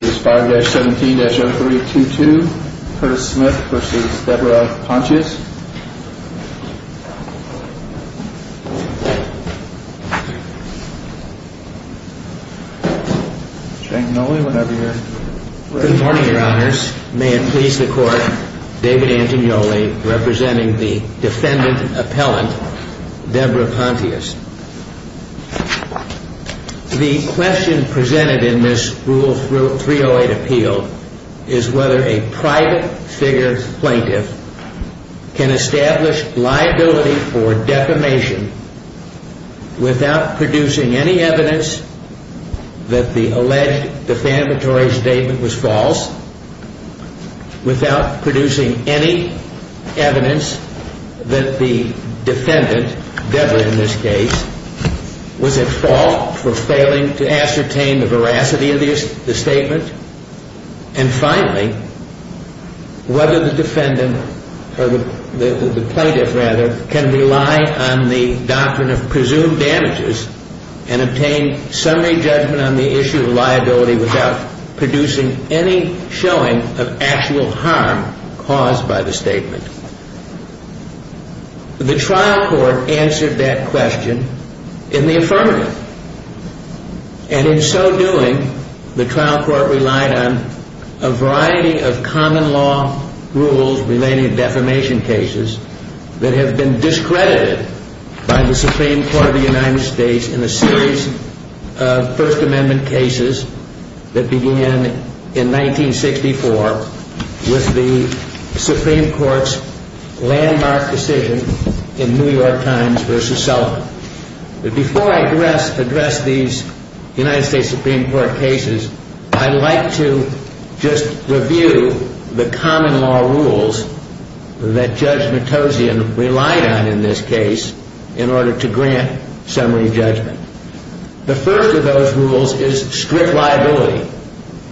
is 5-17-0322 Curtis Smith v. Deborah Pontious. Good morning, Your Honors. May it please the Court, David Antonioli representing the defendant in the 308 appeal is whether a private figure plaintiff can establish liability for defamation without producing any evidence that the alleged defamatory statement was false, without producing any evidence that the defendant, Deborah in this case, was at fault for failing to ascertain the veracity of the statement, and finally, whether the defendant, or the plaintiff rather, can rely on the doctrine of presumed damages and obtain summary judgment on the issue of liability without producing any showing of actual harm caused by the statement. The trial court answered that question in the affirmative, and in so doing, the trial court relied on a variety of common law rules relating to defamation cases that have been discredited by the Supreme Court of the United States in a series of First Amendment cases that began in 1964 with the Supreme Court's landmark decision in New York Times v. Sullivan. Before I address these United States Supreme Court cases, I'd like to just review the common law rules that Judge Matossian relied on in this case in order to grant summary judgment. The first of those rules is strict liability.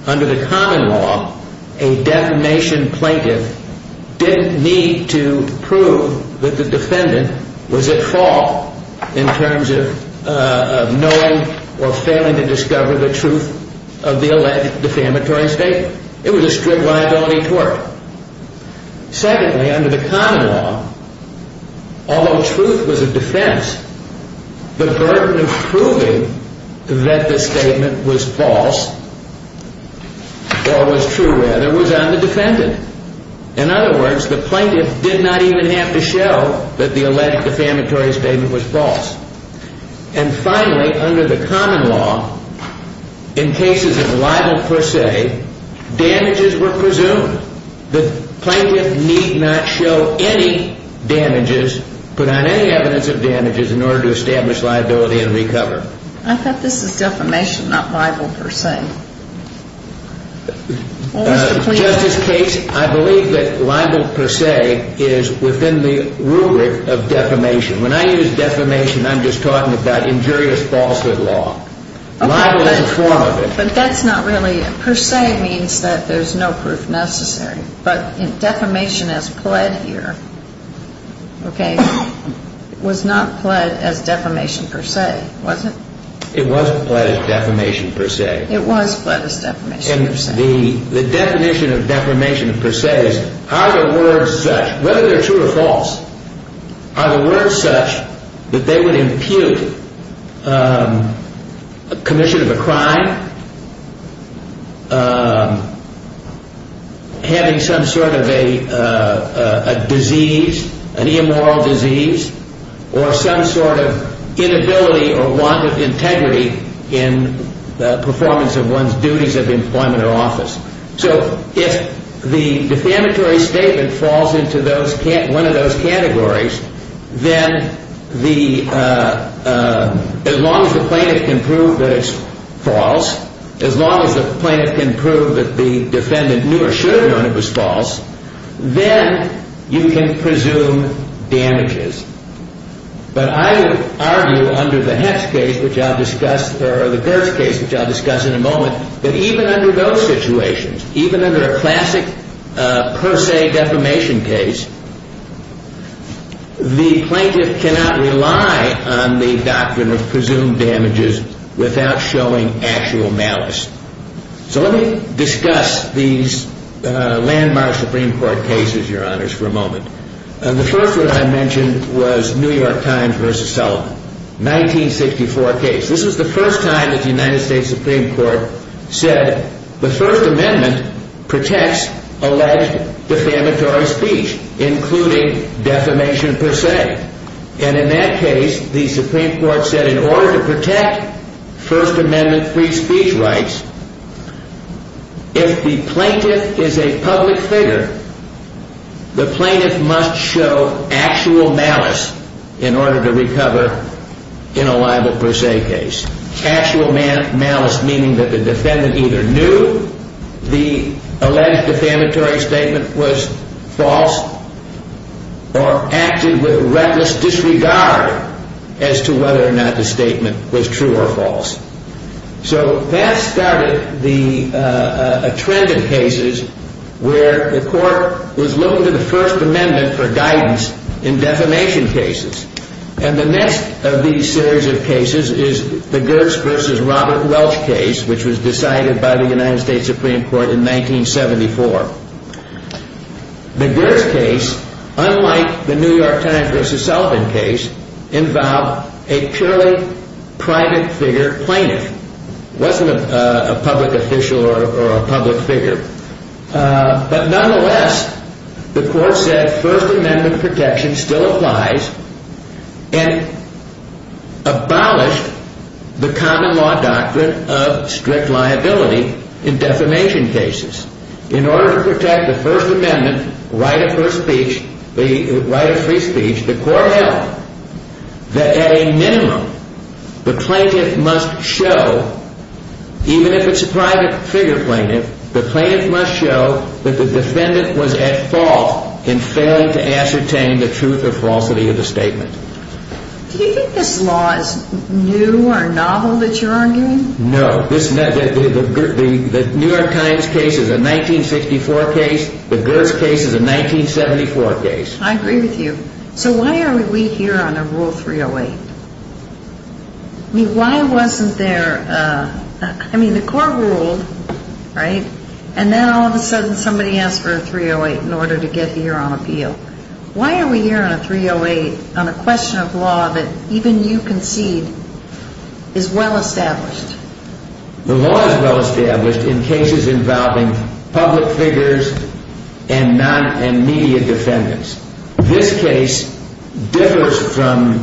Under the common law, a defamation plaintiff didn't need to prove that the defendant was at fault in terms of knowing or failing to discover the truth of the alleged defamatory statement. It was a strict liability tort. Secondly, under the common law, although truth was a defense, the burden of proving that the statement was false, or was true rather, was on the defendant. In other words, the plaintiff did not even have to show that the alleged defamatory statement was false. And finally, under the common law, in cases of libel per se, damages were presumed. The plaintiff need not show any damages, put on any evidence of damages, in order to establish liability and recover. I thought this was defamation, not libel per se. Justice Case, I believe that libel per se is within the rubric of defamation. When I use defamation, I'm just talking about injurious falsehood law. But that's not really it. Per se means that there's no proof necessary. But defamation as pled here, okay, was not pled as defamation per se, was it? It was pled as defamation per se. It was pled as defamation per se. The definition of defamation per se is, are the words such, whether they're true or false, are the words such that they would impute commission of a crime, having some sort of a disease, an immoral disease, or some sort of inability or want of integrity in the performance of one's duties of employment or office. So if the defamatory statement falls into one of those categories, then as long as the plaintiff can prove that it's false, as long as the plaintiff can prove that the defendant knew or should have known it was false, then you can presume damages. But I would argue under the Hess case, which I'll discuss, or the Girtz case, which I'll discuss in a moment, that even under those situations, even under a classic per se defamation case, the plaintiff cannot rely on the doctrine of presumed damages without showing actual malice. So let me discuss these landmark Supreme Court cases, Your Honors, for a moment. And the first one I mentioned was New York Times v. Sullivan, 1964 case. This was the first time that the United States Supreme Court said the First Amendment protects alleged defamatory speech, including defamation per se. And in that case, the Supreme Court said in order to protect First Amendment free speech rights, if the plaintiff is a public figure, the plaintiff must show actual malice in order to recover in a liable per se case. Actual malice meaning that the defendant either knew the alleged defamatory statement was false or acted with reckless disregard as to whether or not the statement was true or false. So that started a trend in cases where the court was looking to the First Amendment for guidance in defamation cases. And the next of these series of cases is the Girtz v. Robert Welch case, which was decided by the United States Supreme Court in 1974. The Girtz case, unlike the New York Times v. Sullivan case, involved a purely private figure plaintiff. It wasn't a public official or a public figure. But nonetheless, the court said First Amendment protection still applies and abolished the common law doctrine of strict liability in defamation cases. In order to protect the First Amendment right of free speech, the court held that at a minimum, the plaintiff must show, even if it's a private figure plaintiff, the plaintiff must show that the defendant was at fault in failing to ascertain the truth or falsity of the statement. Do you think this law is new or novel that you're arguing? No. The New York Times case is a 1964 case. The Girtz case is a 1974 case. I agree with you. So why are we here on a Rule 308? I mean, why wasn't there – I mean, the court ruled, right, and then all of a sudden somebody asked for a 308 in order to get here on appeal. Why are we here on a 308 on a question of law that even you concede is well established? The law is well established in cases involving public figures and media defendants. This case differs from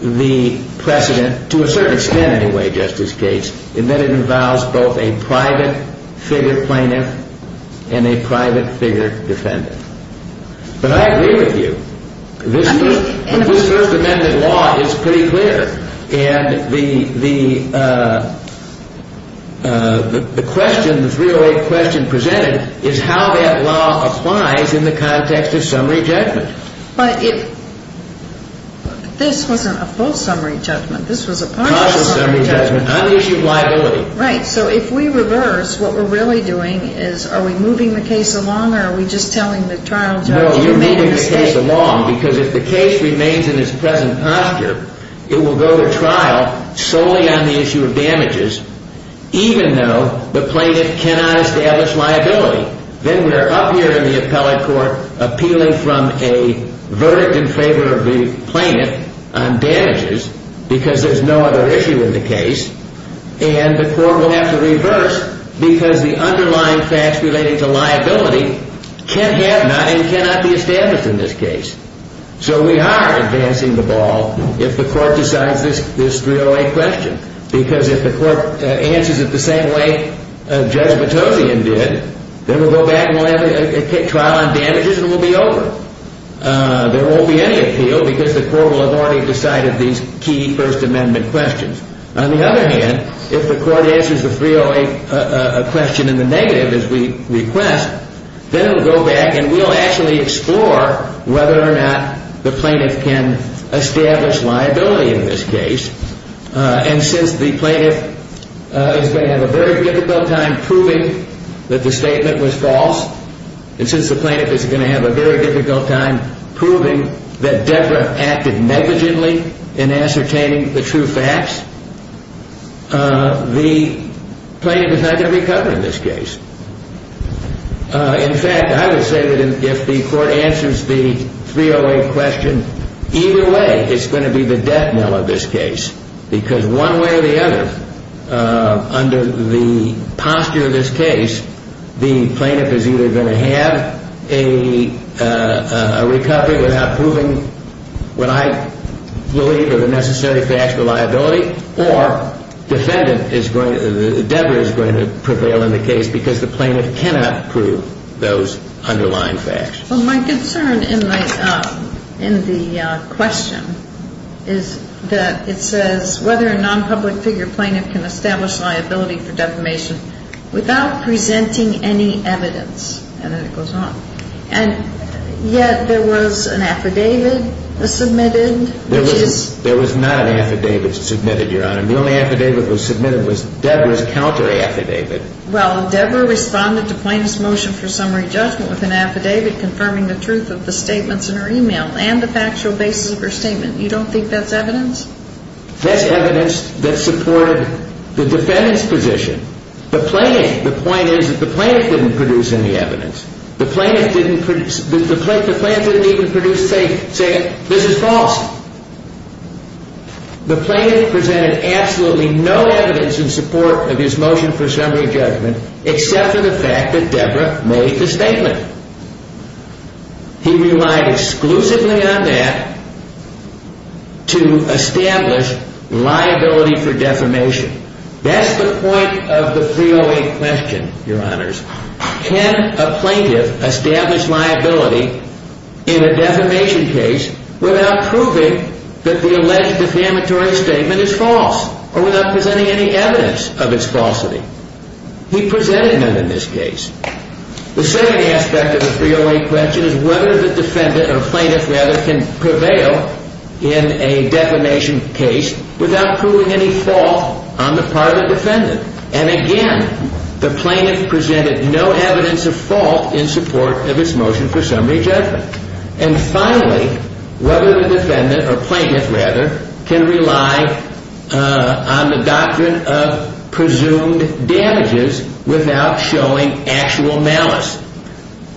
the precedent to a certain extent anyway, Justice Gates, in that it involves both a private figure plaintiff and a private figure defendant. But I agree with you. This First Amendment law is pretty clear, and the question, the 308 question presented is how that law applies in the context of summary judgment. But if – this wasn't a full summary judgment. This was a partial summary judgment. Partial summary judgment, unissued liability. Right. So if we reverse, what we're really doing is are we moving the case along or are we just telling the trial judge – No, you're moving the case along because if the case remains in its present posture, it will go to trial solely on the issue of damages, even though the plaintiff cannot establish liability. Then we're up here in the appellate court appealing from a verdict in favor of the plaintiff on damages because there's no other issue in the case, and the court will have to reverse because the underlying facts relating to liability can have not and cannot be established in this case. So we are advancing the ball if the court decides this 308 question because if the court answers it the same way Judge Batozian did, then we'll go back and we'll have a trial on damages and we'll be over. There won't be any appeal because the court will have already decided these key First Amendment questions. On the other hand, if the court answers the 308 question in the negative as we request, then it will go back and we'll actually explore whether or not the plaintiff can establish liability in this case. And since the plaintiff is going to have a very difficult time proving that the statement was false, and since the plaintiff is going to have a very difficult time proving that Deborah acted negligently in ascertaining the true facts, the plaintiff is not going to recover in this case. In fact, I would say that if the court answers the 308 question, either way it's going to be the death knell of this case because one way or the other, under the posture of this case, the plaintiff is either going to have a recovery without proving what I believe are the necessary facts for liability or the defendant, Deborah, is going to prevail in the case because the plaintiff cannot prove those underlying facts. Well, my concern in the question is that it says, whether a non-public figure plaintiff can establish liability for defamation without presenting any evidence. And then it goes on. And yet there was an affidavit submitted. There was not an affidavit submitted, Your Honor. The only affidavit that was submitted was Deborah's counteraffidavit. Well, Deborah responded to plaintiff's motion for summary judgment with an affidavit confirming the truth of the statements in her e-mail and the factual basis of her statement. You don't think that's evidence? That's evidence that supported the defendant's position. The point is that the plaintiff didn't produce any evidence. The plaintiff didn't even produce saying, this is false. The plaintiff presented absolutely no evidence in support of his motion for summary judgment except for the fact that Deborah made the statement. He relied exclusively on that to establish liability for defamation. That's the point of the 308 question, Your Honors. Can a plaintiff establish liability in a defamation case without proving that the alleged defamatory statement is false or without presenting any evidence of its falsity? He presented none in this case. The second aspect of the 308 question is whether the defendant, or plaintiff rather, can prevail in a defamation case without proving any fault on the part of the defendant. And again, the plaintiff presented no evidence of fault in support of his motion for summary judgment. And finally, whether the defendant, or plaintiff rather, can rely on the doctrine of presumed damages without showing actual malice.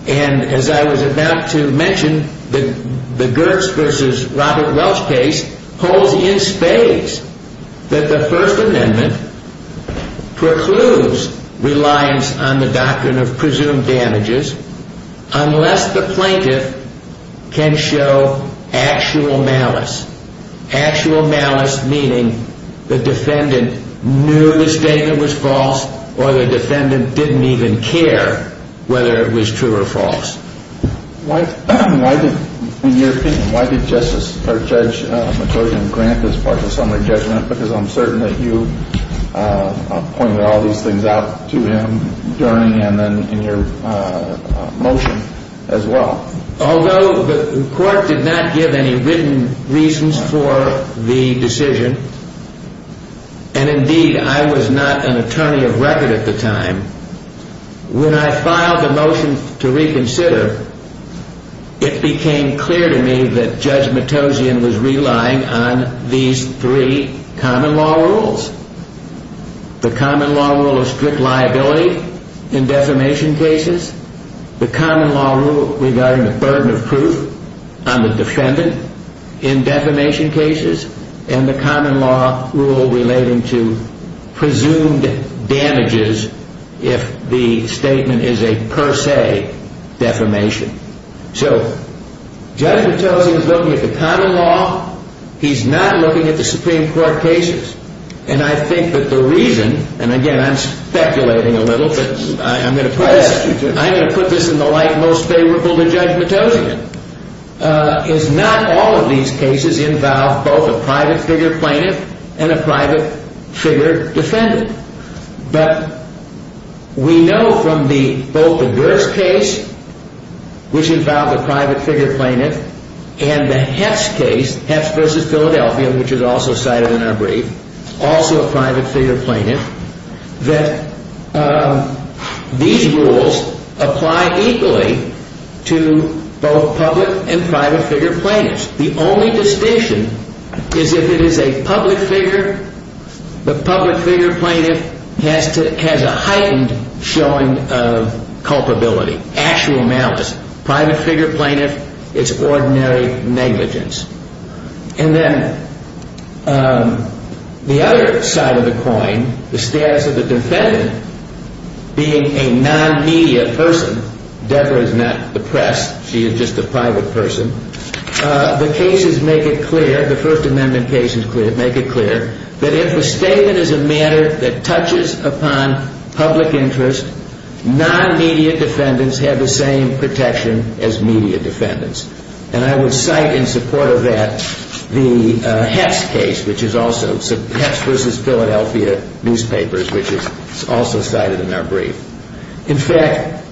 And as I was about to mention, the Gertz versus Robert Welch case holds in spades that the First Amendment precludes reliance on the doctrine of presumed damages unless the plaintiff can show actual malice. Actual malice meaning the defendant knew the statement was false or the defendant didn't even care whether it was true or false. Why did, in your opinion, why did Justice or Judge McCloskey grant this partial summary judgment because I'm certain that you pointed all these things out to him during and then in your motion as well? Although the court did not give any written reasons for the decision, and indeed I was not an attorney of record at the time, when I filed the motion to reconsider, it became clear to me that Judge Matossian was relying on these three common law rules. The common law rule of strict liability in defamation cases, the common law rule regarding the burden of proof on the defendant in defamation cases, and the common law rule relating to presumed damages if the statement is a per se defamation. So Judge Matossian is looking at the common law. He's not looking at the Supreme Court cases. And I think that the reason, and again I'm speculating a little, but I'm going to put this in the light most favorable to Judge Matossian, is not all of these cases involve both a private figure plaintiff and a private figure defendant. But we know from both the Gerst case, which involved a private figure plaintiff, and the Hess case, Hess v. Philadelphia, which is also cited in our brief, also a private figure plaintiff, that these rules apply equally to both public and private figure plaintiffs. The only distinction is if it is a public figure. The public figure plaintiff has a heightened showing of culpability, actual malice. Private figure plaintiff, it's ordinary negligence. And then the other side of the coin, the status of the defendant being a non-media person. Deborah is not the press. She is just a private person. The cases make it clear, the First Amendment cases make it clear, that if a statement is a matter that touches upon public interest, non-media defendants have the same protection as media defendants. And I would cite in support of that the Hess case, which is also, Hess v. Philadelphia newspapers, which is also cited in our brief. In fact,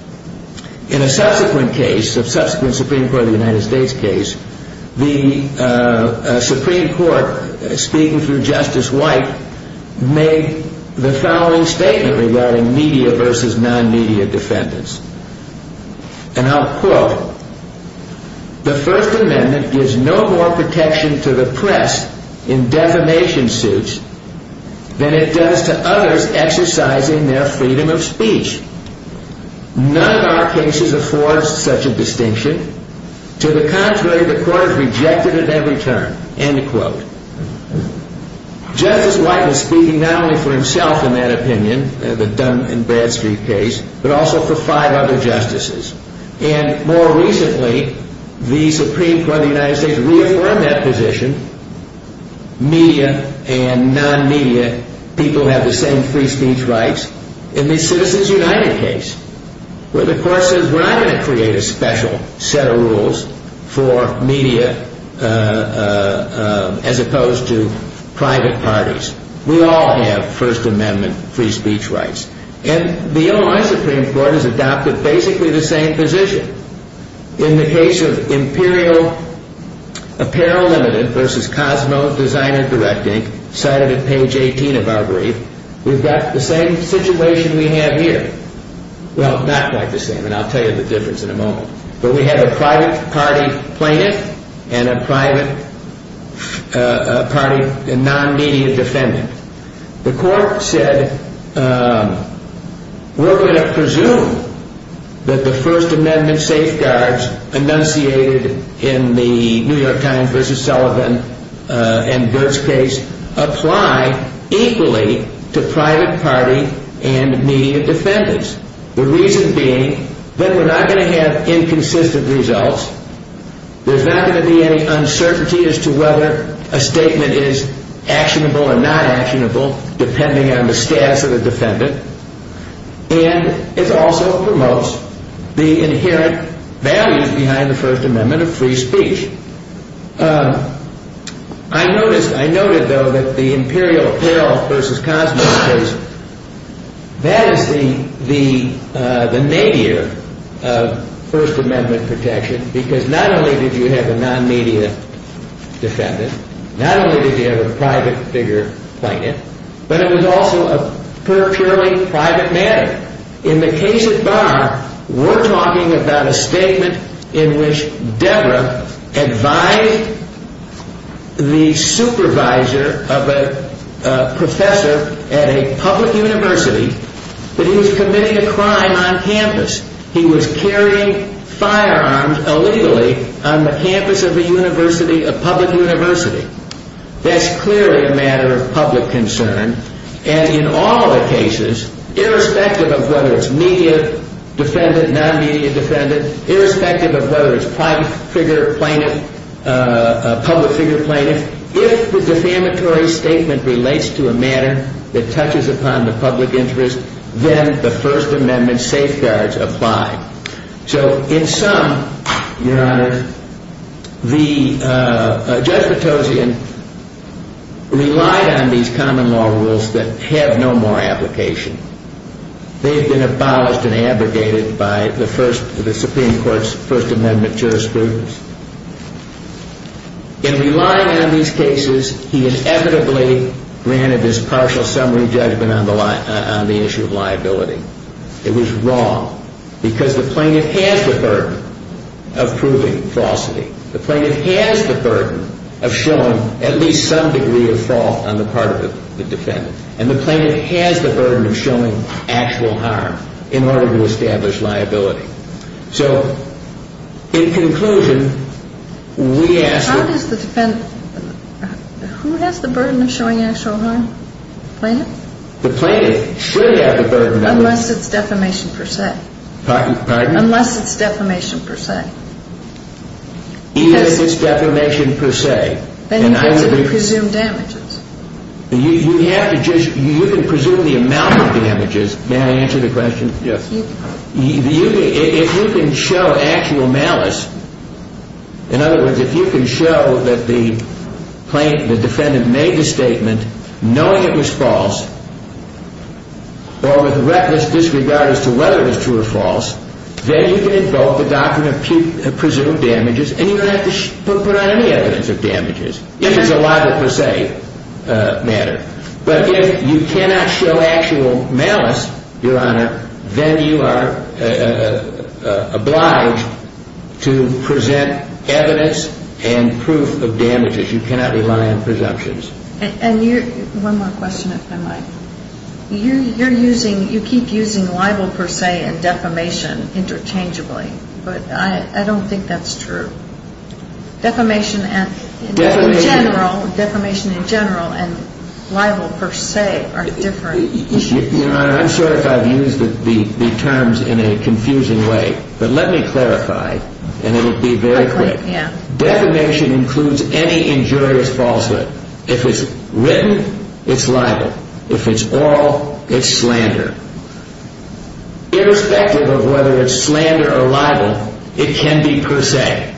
in a subsequent case, a subsequent Supreme Court of the United States case, the Supreme Court, speaking through Justice White, made the following statement regarding media v. non-media defendants. And I'll quote. The First Amendment gives no more protection to the press in defamation suits than it does to others exercising their freedom of speech. None of our cases affords such a distinction. To the contrary, the court is rejected at every turn. End quote. Justice White is speaking not only for himself in that opinion, the Dunn v. Bradstreet case, but also for five other justices. And more recently, the Supreme Court of the United States reaffirmed that position. Media and non-media people have the same free speech rights in the Citizens United case, where the court says, well, I'm going to create a special set of rules for media as opposed to private parties. We all have First Amendment free speech rights. And the Illinois Supreme Court has adopted basically the same position. In the case of Imperial Apparel Limited v. Cosmo Designer Directing, cited at page 18 of our brief, we've got the same situation we have here. Well, not quite the same, and I'll tell you the difference in a moment. But we have a private party plaintiff and a private party non-media defendant. The court said, we're going to presume that the First Amendment safeguards enunciated in the New York Times v. Sullivan and Girtz case apply equally to private party and media defendants. The reason being that we're not going to have inconsistent results. There's not going to be any uncertainty as to whether a statement is actionable or not actionable, depending on the status of the defendant. And it also promotes the inherent values behind the First Amendment of free speech. I noticed, though, that the Imperial Apparel v. Cosmo was, that is the nadir of First Amendment protection, because not only did you have a non-media defendant, not only did you have a private figure plaintiff, but it was also a purely private matter. In fact, in the case at Barr, we're talking about a statement in which Deborah advised the supervisor of a professor at a public university that he was committing a crime on campus. He was carrying firearms illegally on the campus of a university, a public university. That's clearly a matter of public concern. And in all the cases, irrespective of whether it's media defendant, non-media defendant, irrespective of whether it's private figure plaintiff, public figure plaintiff, if the defamatory statement relates to a matter that touches upon the public interest, then the First Amendment safeguards apply. So in sum, Your Honor, Judge Patosian relied on these common law rules that have no more application. They've been abolished and abrogated by the Supreme Court's First Amendment jurisprudence. In relying on these cases, he inevitably granted this partial summary judgment on the issue of liability. It was wrong because the plaintiff has the burden of proving falsity. The plaintiff has the burden of showing at least some degree of fault on the part of the defendant. And the plaintiff has the burden of showing actual harm in order to establish liability. So in conclusion, we ask that... How does the defendant... Who has the burden of showing actual harm? The plaintiff? The plaintiff should have the burden of... Unless it's defamation per se. Pardon? Unless it's defamation per se. Even if it's defamation per se. Then you can sort of presume damages. You have to just... You can presume the amount of damages. May I answer the question? Yes. If you can show actual malice, in other words, if you can show that the plaintiff, the defendant made the statement knowing it was false or with reckless disregard as to whether it was true or false, then you can invoke the doctrine of presumed damages and you don't have to put on any evidence of damages. If it's a liability per se matter. But if you cannot show actual malice, Your Honor, then you are obliged to present evidence and proof of damages. You cannot rely on presumptions. And you're... One more question, if I might. You're using... You keep using liable per se and defamation interchangeably. But I don't think that's true. Defamation in general and liable per se are different. Your Honor, I'm sorry if I've used the terms in a confusing way. But let me clarify, and it will be very quick. Defamation includes any injurious falsehood. If it's written, it's liable. If it's oral, it's slander. Irrespective of whether it's slander or liable, it can be per se.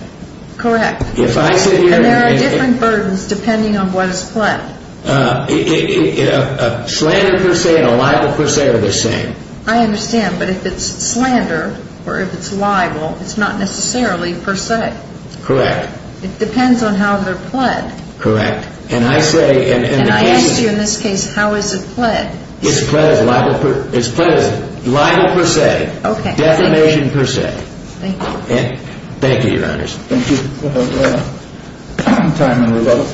Correct. If I sit here... And there are different burdens depending on what is planned. A slander per se and a liable per se are the same. I understand. But if it's slander or if it's liable, it's not necessarily per se. Correct. It depends on how they're pled. Correct. And I say... And I ask you in this case, how is it pled? It's pled as liable per... It's pled as liable per se. Okay. Defamation per se. Thank you. Thank you, Your Honors. Thank you very much. Thank you for your time and rebuttal.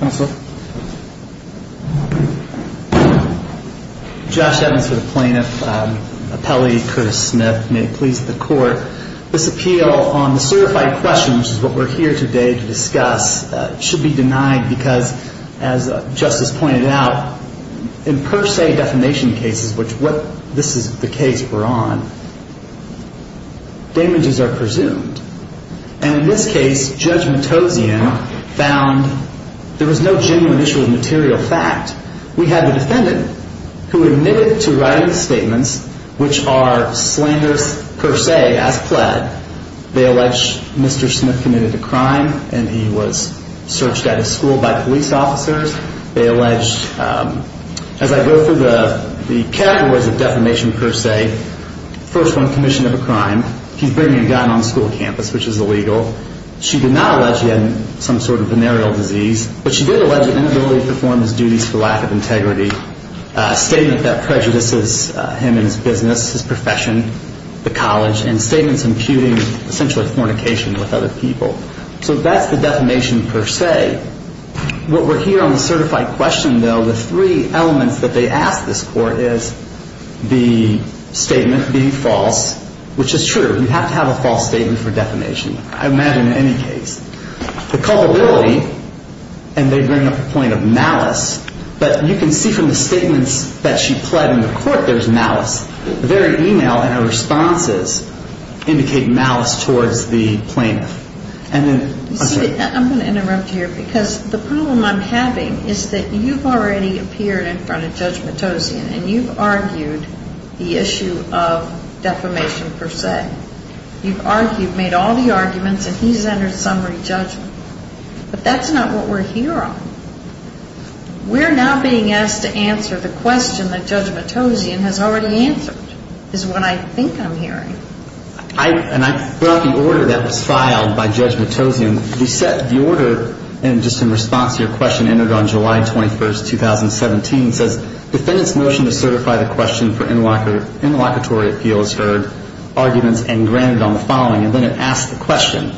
Counsel. Josh Evans for the plaintiff. Appellee Curtis Smith. May it please the Court. This appeal on the certified question, which is what we're here today to discuss, should be denied because, as Justice pointed out, in per se defamation cases, which this is the case we're on, damages are presumed. And in this case, Judge Matossian found there was no genuine issue of material fact. We have a defendant who admitted to writing statements which are slanderous per se as pled. They allege Mr. Smith committed a crime and he was searched at his school by police officers. They allege, as I go through the categories of defamation per se, first one, commission of a crime. He's bringing a gun on the school campus, which is illegal. She did not allege he had some sort of venereal disease, but she did allege an inability to perform his duties for lack of integrity, a statement that prejudices him and his business, his profession, the college, and statements imputing essentially fornication with other people. So that's the defamation per se. What we're here on the certified question, though, the three elements that they ask this court is the statement being false, which is true. You have to have a false statement for defamation, I imagine, in any case. The culpability, and they bring up the point of malice, but you can see from the statements that she pled in the court there's malice. The very e-mail and her responses indicate malice towards the plaintiff. I'm going to interrupt here because the problem I'm having is that you've already appeared in front of Judge Matossian and you've argued the issue of defamation per se. You've argued, made all the arguments, and he's entered summary judgment. But that's not what we're here on. We're now being asked to answer the question that Judge Matossian has already answered is what I think I'm hearing. And I brought the order that was filed by Judge Matossian. The order, and just in response to your question, entered on July 21st, 2017. It says, defendant's motion to certify the question for interlocutory appeal has heard arguments and granted on the following. And then it asks the question.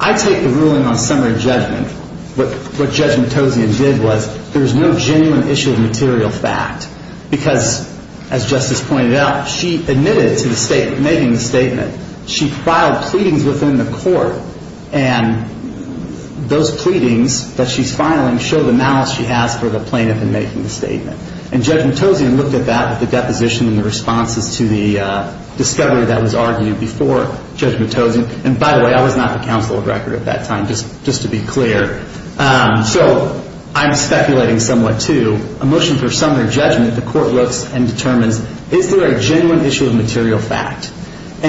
I take the ruling on summary judgment. What Judge Matossian did was there was no genuine issue of material fact because, as Justice pointed out, she admitted to making the statement. She filed pleadings within the court, and those pleadings that she's filing show the malice she has for the plaintiff in making the statement. And Judge Matossian looked at that with the deposition and the responses to the discovery that was argued before Judge Matossian. And, by the way, I was not the counsel of record at that time, just to be clear. So I'm speculating somewhat, too. And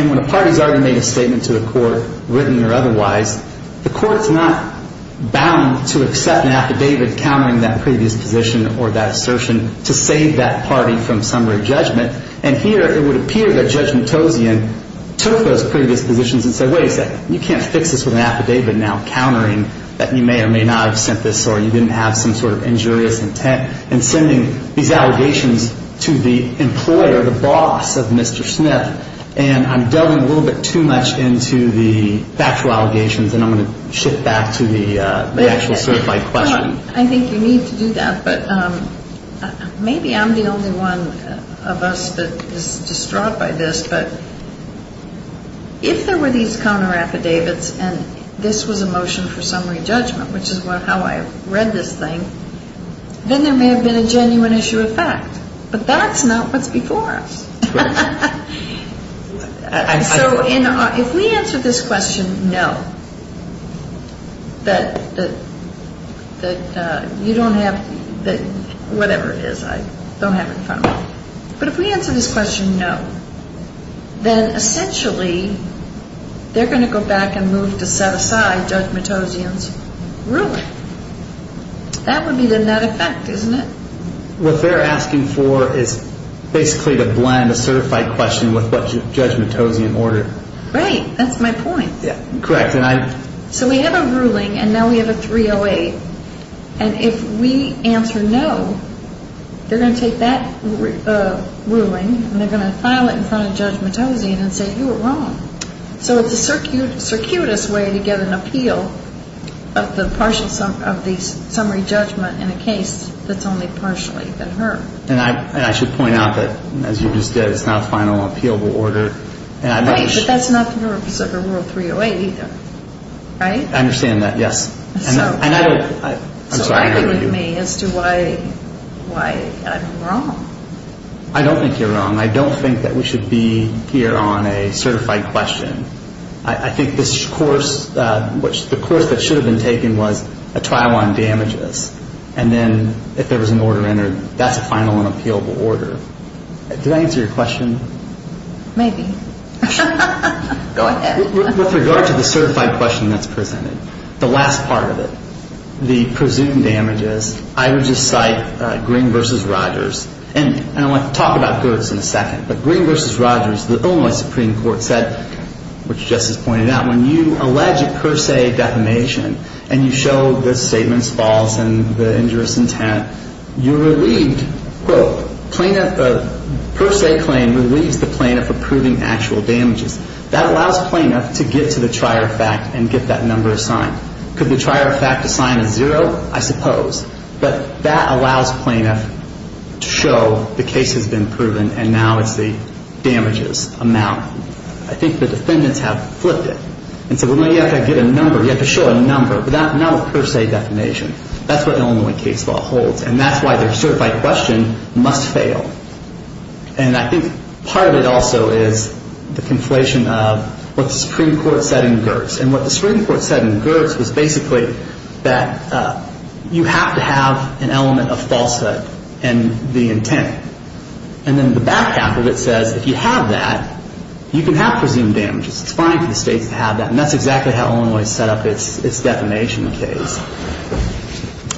when a party has already made a statement to the court, written or otherwise, the court is not bound to accept an affidavit countering that previous position or that assertion to save that party from summary judgment. And here it would appear that Judge Matossian took those previous positions and said, wait a second, you can't fix this with an affidavit now countering that you may or may not have sent this or you didn't have some sort of injurious intent in sending these allegations to the employer, the boss of Mr. Smith. And I'm delving a little bit too much into the factual allegations, and I'm going to shift back to the actual certified question. I think you need to do that, but maybe I'm the only one of us that is distraught by this. But if there were these counter affidavits and this was a motion for summary judgment, which is how I read this thing, then there may have been a genuine issue of fact. But that's not what's before us. So if we answer this question, no, that you don't have, whatever it is, I don't have it in front of me. But if we answer this question, no, then essentially they're going to go back and move to set aside Judge Matossian's ruling. That would be the net effect, isn't it? What they're asking for is basically to blend a certified question with what Judge Matossian ordered. Right. That's my point. Correct. So we have a ruling, and now we have a 308. And if we answer no, they're going to take that ruling, and they're going to file it in front of Judge Matossian and say you were wrong. So it's the circuitous way to get an appeal of the summary judgment in a case that's only partially been heard. And I should point out that, as you just did, it's not a final appealable order. Right, but that's not the rule of 308 either, right? I understand that, yes. So argue with me as to why I'm wrong. I don't think you're wrong. I don't think that we should be here on a certified question. I think this course, the course that should have been taken was a trial on damages. And then if there was an order entered, that's a final and appealable order. Did I answer your question? Maybe. Go ahead. With regard to the certified question that's presented, the last part of it, the presumed damages, I would just cite Green v. Rogers. And I want to talk about Gertz in a second, but Green v. Rogers, the Illinois Supreme Court said, which Justice pointed out, when you allege a per se defamation and you show the statement's false and the injurious intent, you're relieved, quote, plaintiff, a per se claim relieves the plaintiff of proving actual damages. That allows plaintiff to get to the trier of fact and get that number assigned. Could the trier of fact assign a zero? I suppose. But that allows plaintiff to show the case has been proven and now it's the damages amount. I think the defendants have flipped it and said, well, no, you have to get a number. You have to show a number, but not a per se defamation. That's what an Illinois case law holds. And that's why the certified question must fail. And I think part of it also is the conflation of what the Supreme Court said in Gertz. And what the Supreme Court said in Gertz was basically that you have to have an element of falsehood in the intent. And then the back half of it says if you have that, you can have presumed damages. It's fine for the states to have that. And that's exactly how Illinois set up its defamation case.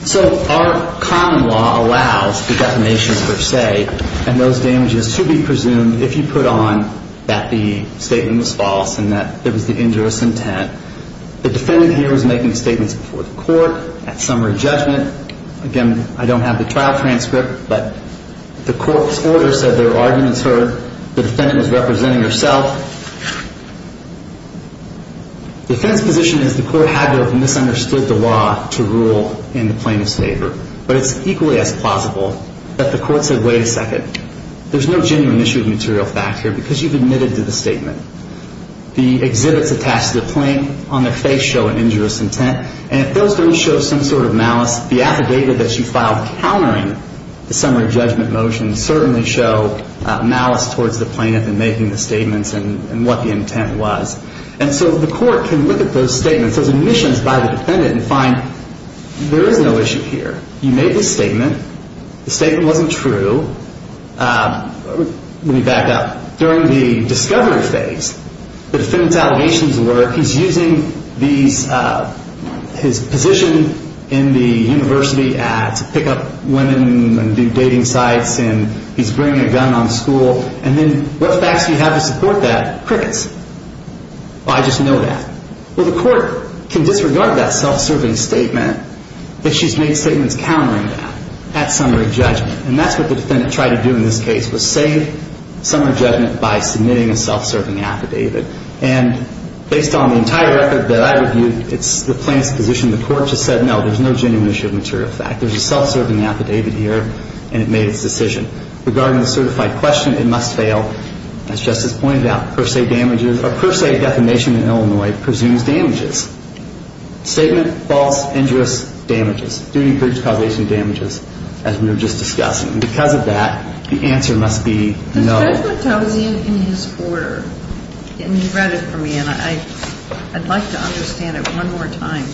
So our common law allows defamations per se. And those damages should be presumed if you put on that the statement was false and that it was the injurious intent. The defendant here was making statements before the court at summary judgment. Again, I don't have the trial transcript, but the court's order said there were arguments heard. The defendant was representing herself. The defense position is the court had to have misunderstood the law to rule in the plaintiff's favor. But it's equally as plausible that the court said, wait a second, there's no genuine issue of material fact here because you've admitted to the statement. The exhibits attached to the plaintiff on their face show an injurious intent. And if those don't show some sort of malice, the affidavit that you filed countering the summary judgment motion can certainly show malice towards the plaintiff in making the statements and what the intent was. And so the court can look at those statements, those admissions by the defendant, and find there is no issue here. You made this statement. The statement wasn't true. Let me back up. During the discovery phase, the defendant's allegations were he's using his position in the university to pick up women and do dating sites, and he's bringing a gun on school. And then what facts do you have to support that? Crickets. I just know that. Well, the court can disregard that self-serving statement if she's made statements countering that at summary judgment. And that's what the defendant tried to do in this case, was save summary judgment by submitting a self-serving affidavit. And based on the entire record that I reviewed, it's the plaintiff's position. The court just said, no, there's no genuine issue of material fact. There's a self-serving affidavit here, and it made its decision. Regarding the certified question, it must fail. As Justice pointed out, per se damages or per se defamation in Illinois presumes damages. Statement, false, injurious, damages. Duty, breach, causation of damages, as we were just discussing. And because of that, the answer must be no. The judgment tells you in his order. And you've read it for me, and I'd like to understand it one more time.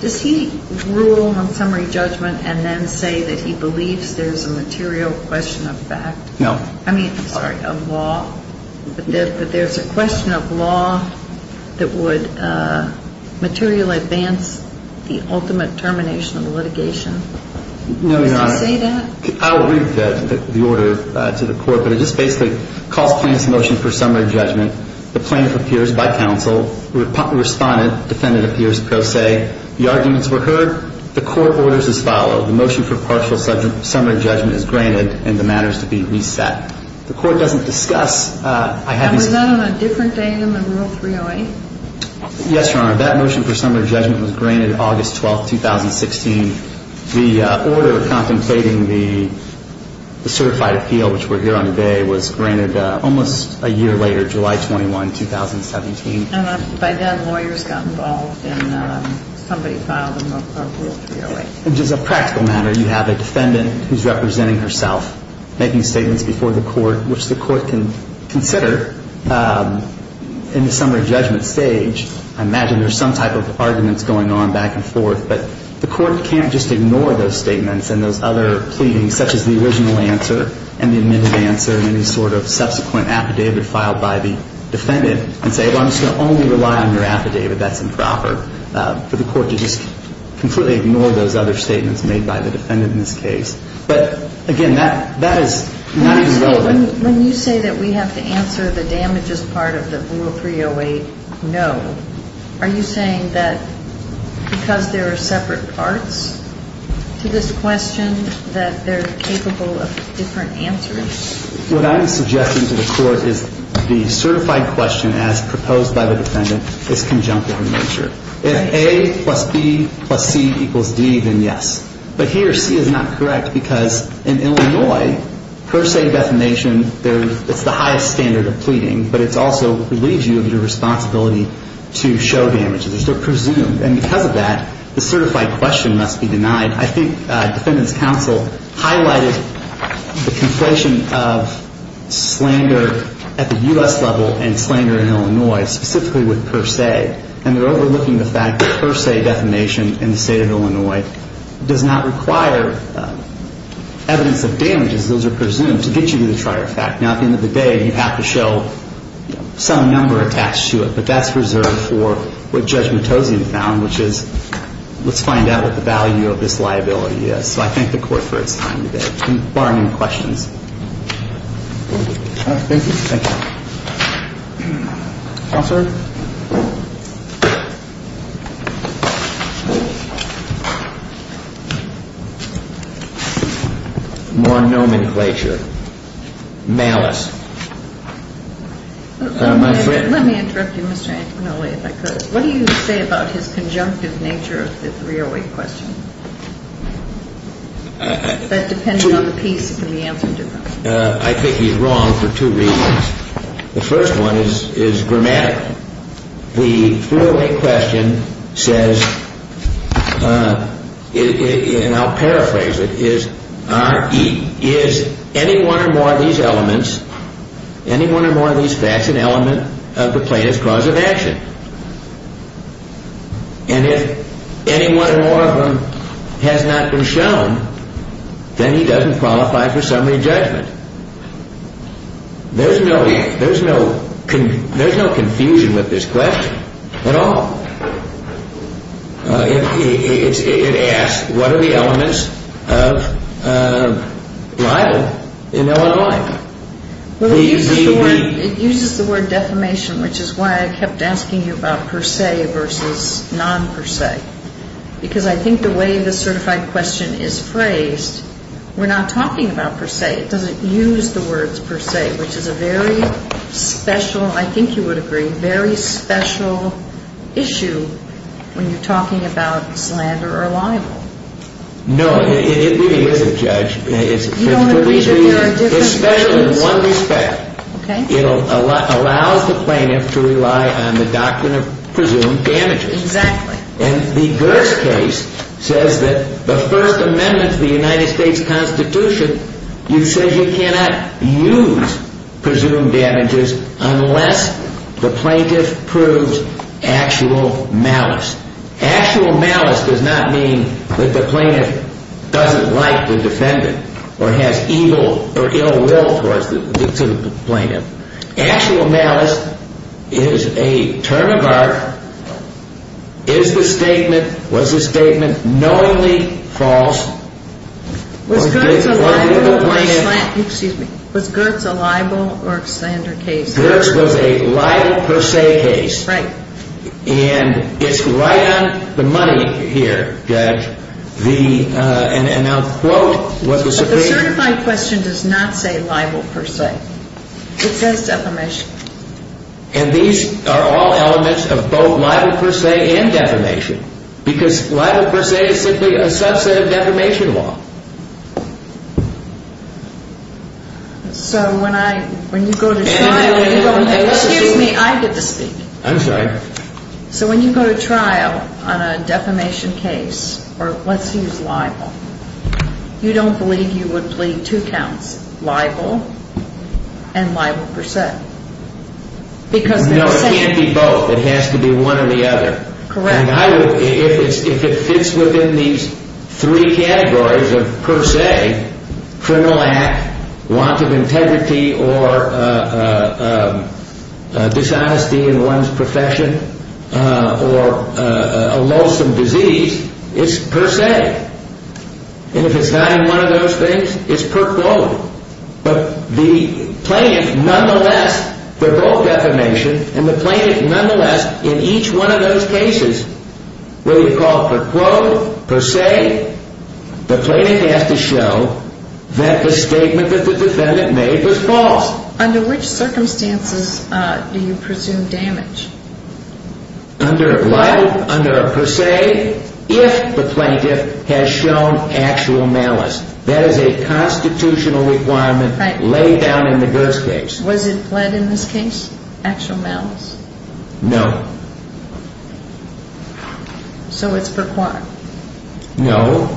Does he rule on summary judgment and then say that he believes there's a material question of fact? No. I mean, sorry, of law. But there's a question of law that would material advance the ultimate termination of litigation. No, Your Honor. Does he say that? I'll read the order to the court. But it just basically calls plaintiff's motion for summary judgment. The plaintiff appears by counsel. Respondent, defendant appears pro se. The arguments were heard. The court orders as followed. The motion for partial summary judgment is granted, and the matter is to be reset. The court doesn't discuss. And was that on a different day than the Rule 308? Yes, Your Honor. That motion for summary judgment was granted August 12, 2016. The order contemplating the certified appeal, which we're here on today, was granted almost a year later, July 21, 2017. And by then, lawyers got involved, and somebody filed a Rule 308. And just a practical matter, you have a defendant who's representing herself, making statements before the court, which the court can consider in the summary judgment stage. I imagine there's some type of arguments going on back and forth, but the court can't just ignore those statements and those other pleadings, such as the original answer and the admitted answer and any sort of subsequent affidavit filed by the defendant, and say, well, I'm just going to only rely on your affidavit. That's improper. For the court to just completely ignore those other statements made by the defendant in this case. But, again, that is not as relevant. When you say that we have to answer the damages part of the Rule 308 no, are you saying that because there are separate parts to this question that they're capable of different answers? What I'm suggesting to the court is the certified question as proposed by the defendant is conjunctive in nature. If A plus B plus C equals D, then yes. But here, C is not correct, because in Illinois, per se defamation, it's the highest standard of pleading, but it also relieves you of your responsibility to show damages. They're presumed. And I think Defendant's Counsel highlighted the conflation of slander at the U.S. level and slander in Illinois, specifically with per se. And they're overlooking the fact that per se defamation in the State of Illinois does not require evidence of damages. Those are presumed to get you to the trier fact. Now, at the end of the day, you have to show some number attached to it, but that's reserved for what Judge Matosian found, which is let's find out what the value of this liability is. So I thank the court for its time today. Bar no questions. Thank you. Counselor? More nomenclature. Malice. My friend. Let me interrupt you, Mr. Antimonelli, if I could. What do you say about his conjunctive nature of the 308 question? That depends on the piece and the answer to that. I think he's wrong for two reasons. The first one is grammatical. The 308 question says, and I'll paraphrase it, is, is any one or more of these elements, any one or more of these facts an element of the plaintiff's cause of action? And if any one or more of them has not been shown, then he doesn't qualify for summary judgment. There's no confusion with this question at all. It asks, what are the elements of libel in Illinois? It uses the word defamation, which is why I kept asking you about per se versus non per se, because I think the way the certified question is phrased, we're not talking about per se. It doesn't use the words per se, which is a very special, I think you would agree, very special issue when you're talking about slander or libel. No, it is a judge. You don't agree that there are different judgments. It's special in one respect. Okay. It allows the plaintiff to rely on the doctrine of presumed damages. Exactly. And the Girtz case says that the First Amendment to the United States Constitution, it says you cannot use presumed damages unless the plaintiff proves actual malice. Actual malice does not mean that the plaintiff doesn't like the defendant or has evil or ill will towards the plaintiff. Actual malice is a term of art. Is the statement, was the statement knowingly false? Was Girtz a libel or slander case? Girtz was a libel per se case. Right. And it's right on the money here, Judge. And I'll quote what the Supreme Court said. The Constitution does not say libel per se. It says defamation. And these are all elements of both libel per se and defamation because libel per se is simply a subset of defamation law. So when I, when you go to trial and you go, excuse me, I get to speak. I'm sorry. So when you go to trial on a defamation case, or let's use libel, you don't believe you would plead two counts, libel and libel per se. Because they're the same. No, it can't be both. It has to be one or the other. Correct. And I would, if it fits within these three categories of per se, criminal act, want of integrity, or dishonesty in one's profession, or a lonesome disease, it's per se. And if it's not in one of those things, it's per quote. But the plaintiff, nonetheless, they're both defamation, and the plaintiff, nonetheless, in each one of those cases, whether you call it per quote, per se, the plaintiff has to show that the statement that the defendant made was false. So under which circumstances do you presume damage? Under a libel, under a per se, if the plaintiff has shown actual malice. That is a constitutional requirement laid down in the Gers case. Was it pled in this case, actual malice? No. So it's per quote. No.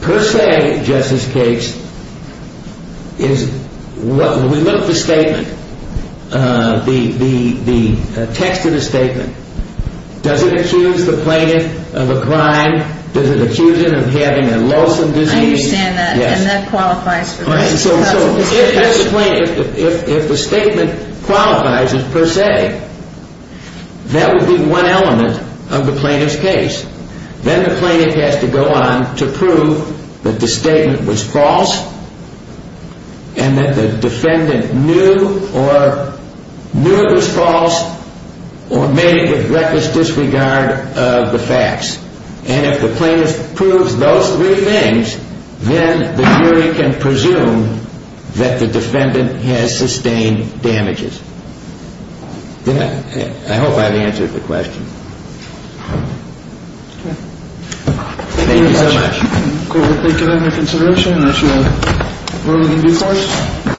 Per se, Justice Gates, is when we look at the statement, the text of the statement, does it accuse the plaintiff of a crime? Does it accuse him of having a lonesome disease? I understand that. Yes. And that qualifies for this. So if that's the plaintiff, if the statement qualifies as per se, that would be one element of the plaintiff's case. Then the plaintiff has to go on to prove that the statement was false and that the defendant knew or knew it was false or made it with reckless disregard of the facts. And if the plaintiff proves those three things, then the jury can presume that the defendant has sustained damages. Yes. I hope I have answered the question. Okay. Thank you so much. Thank you for your consideration. This is what we're going to do for you.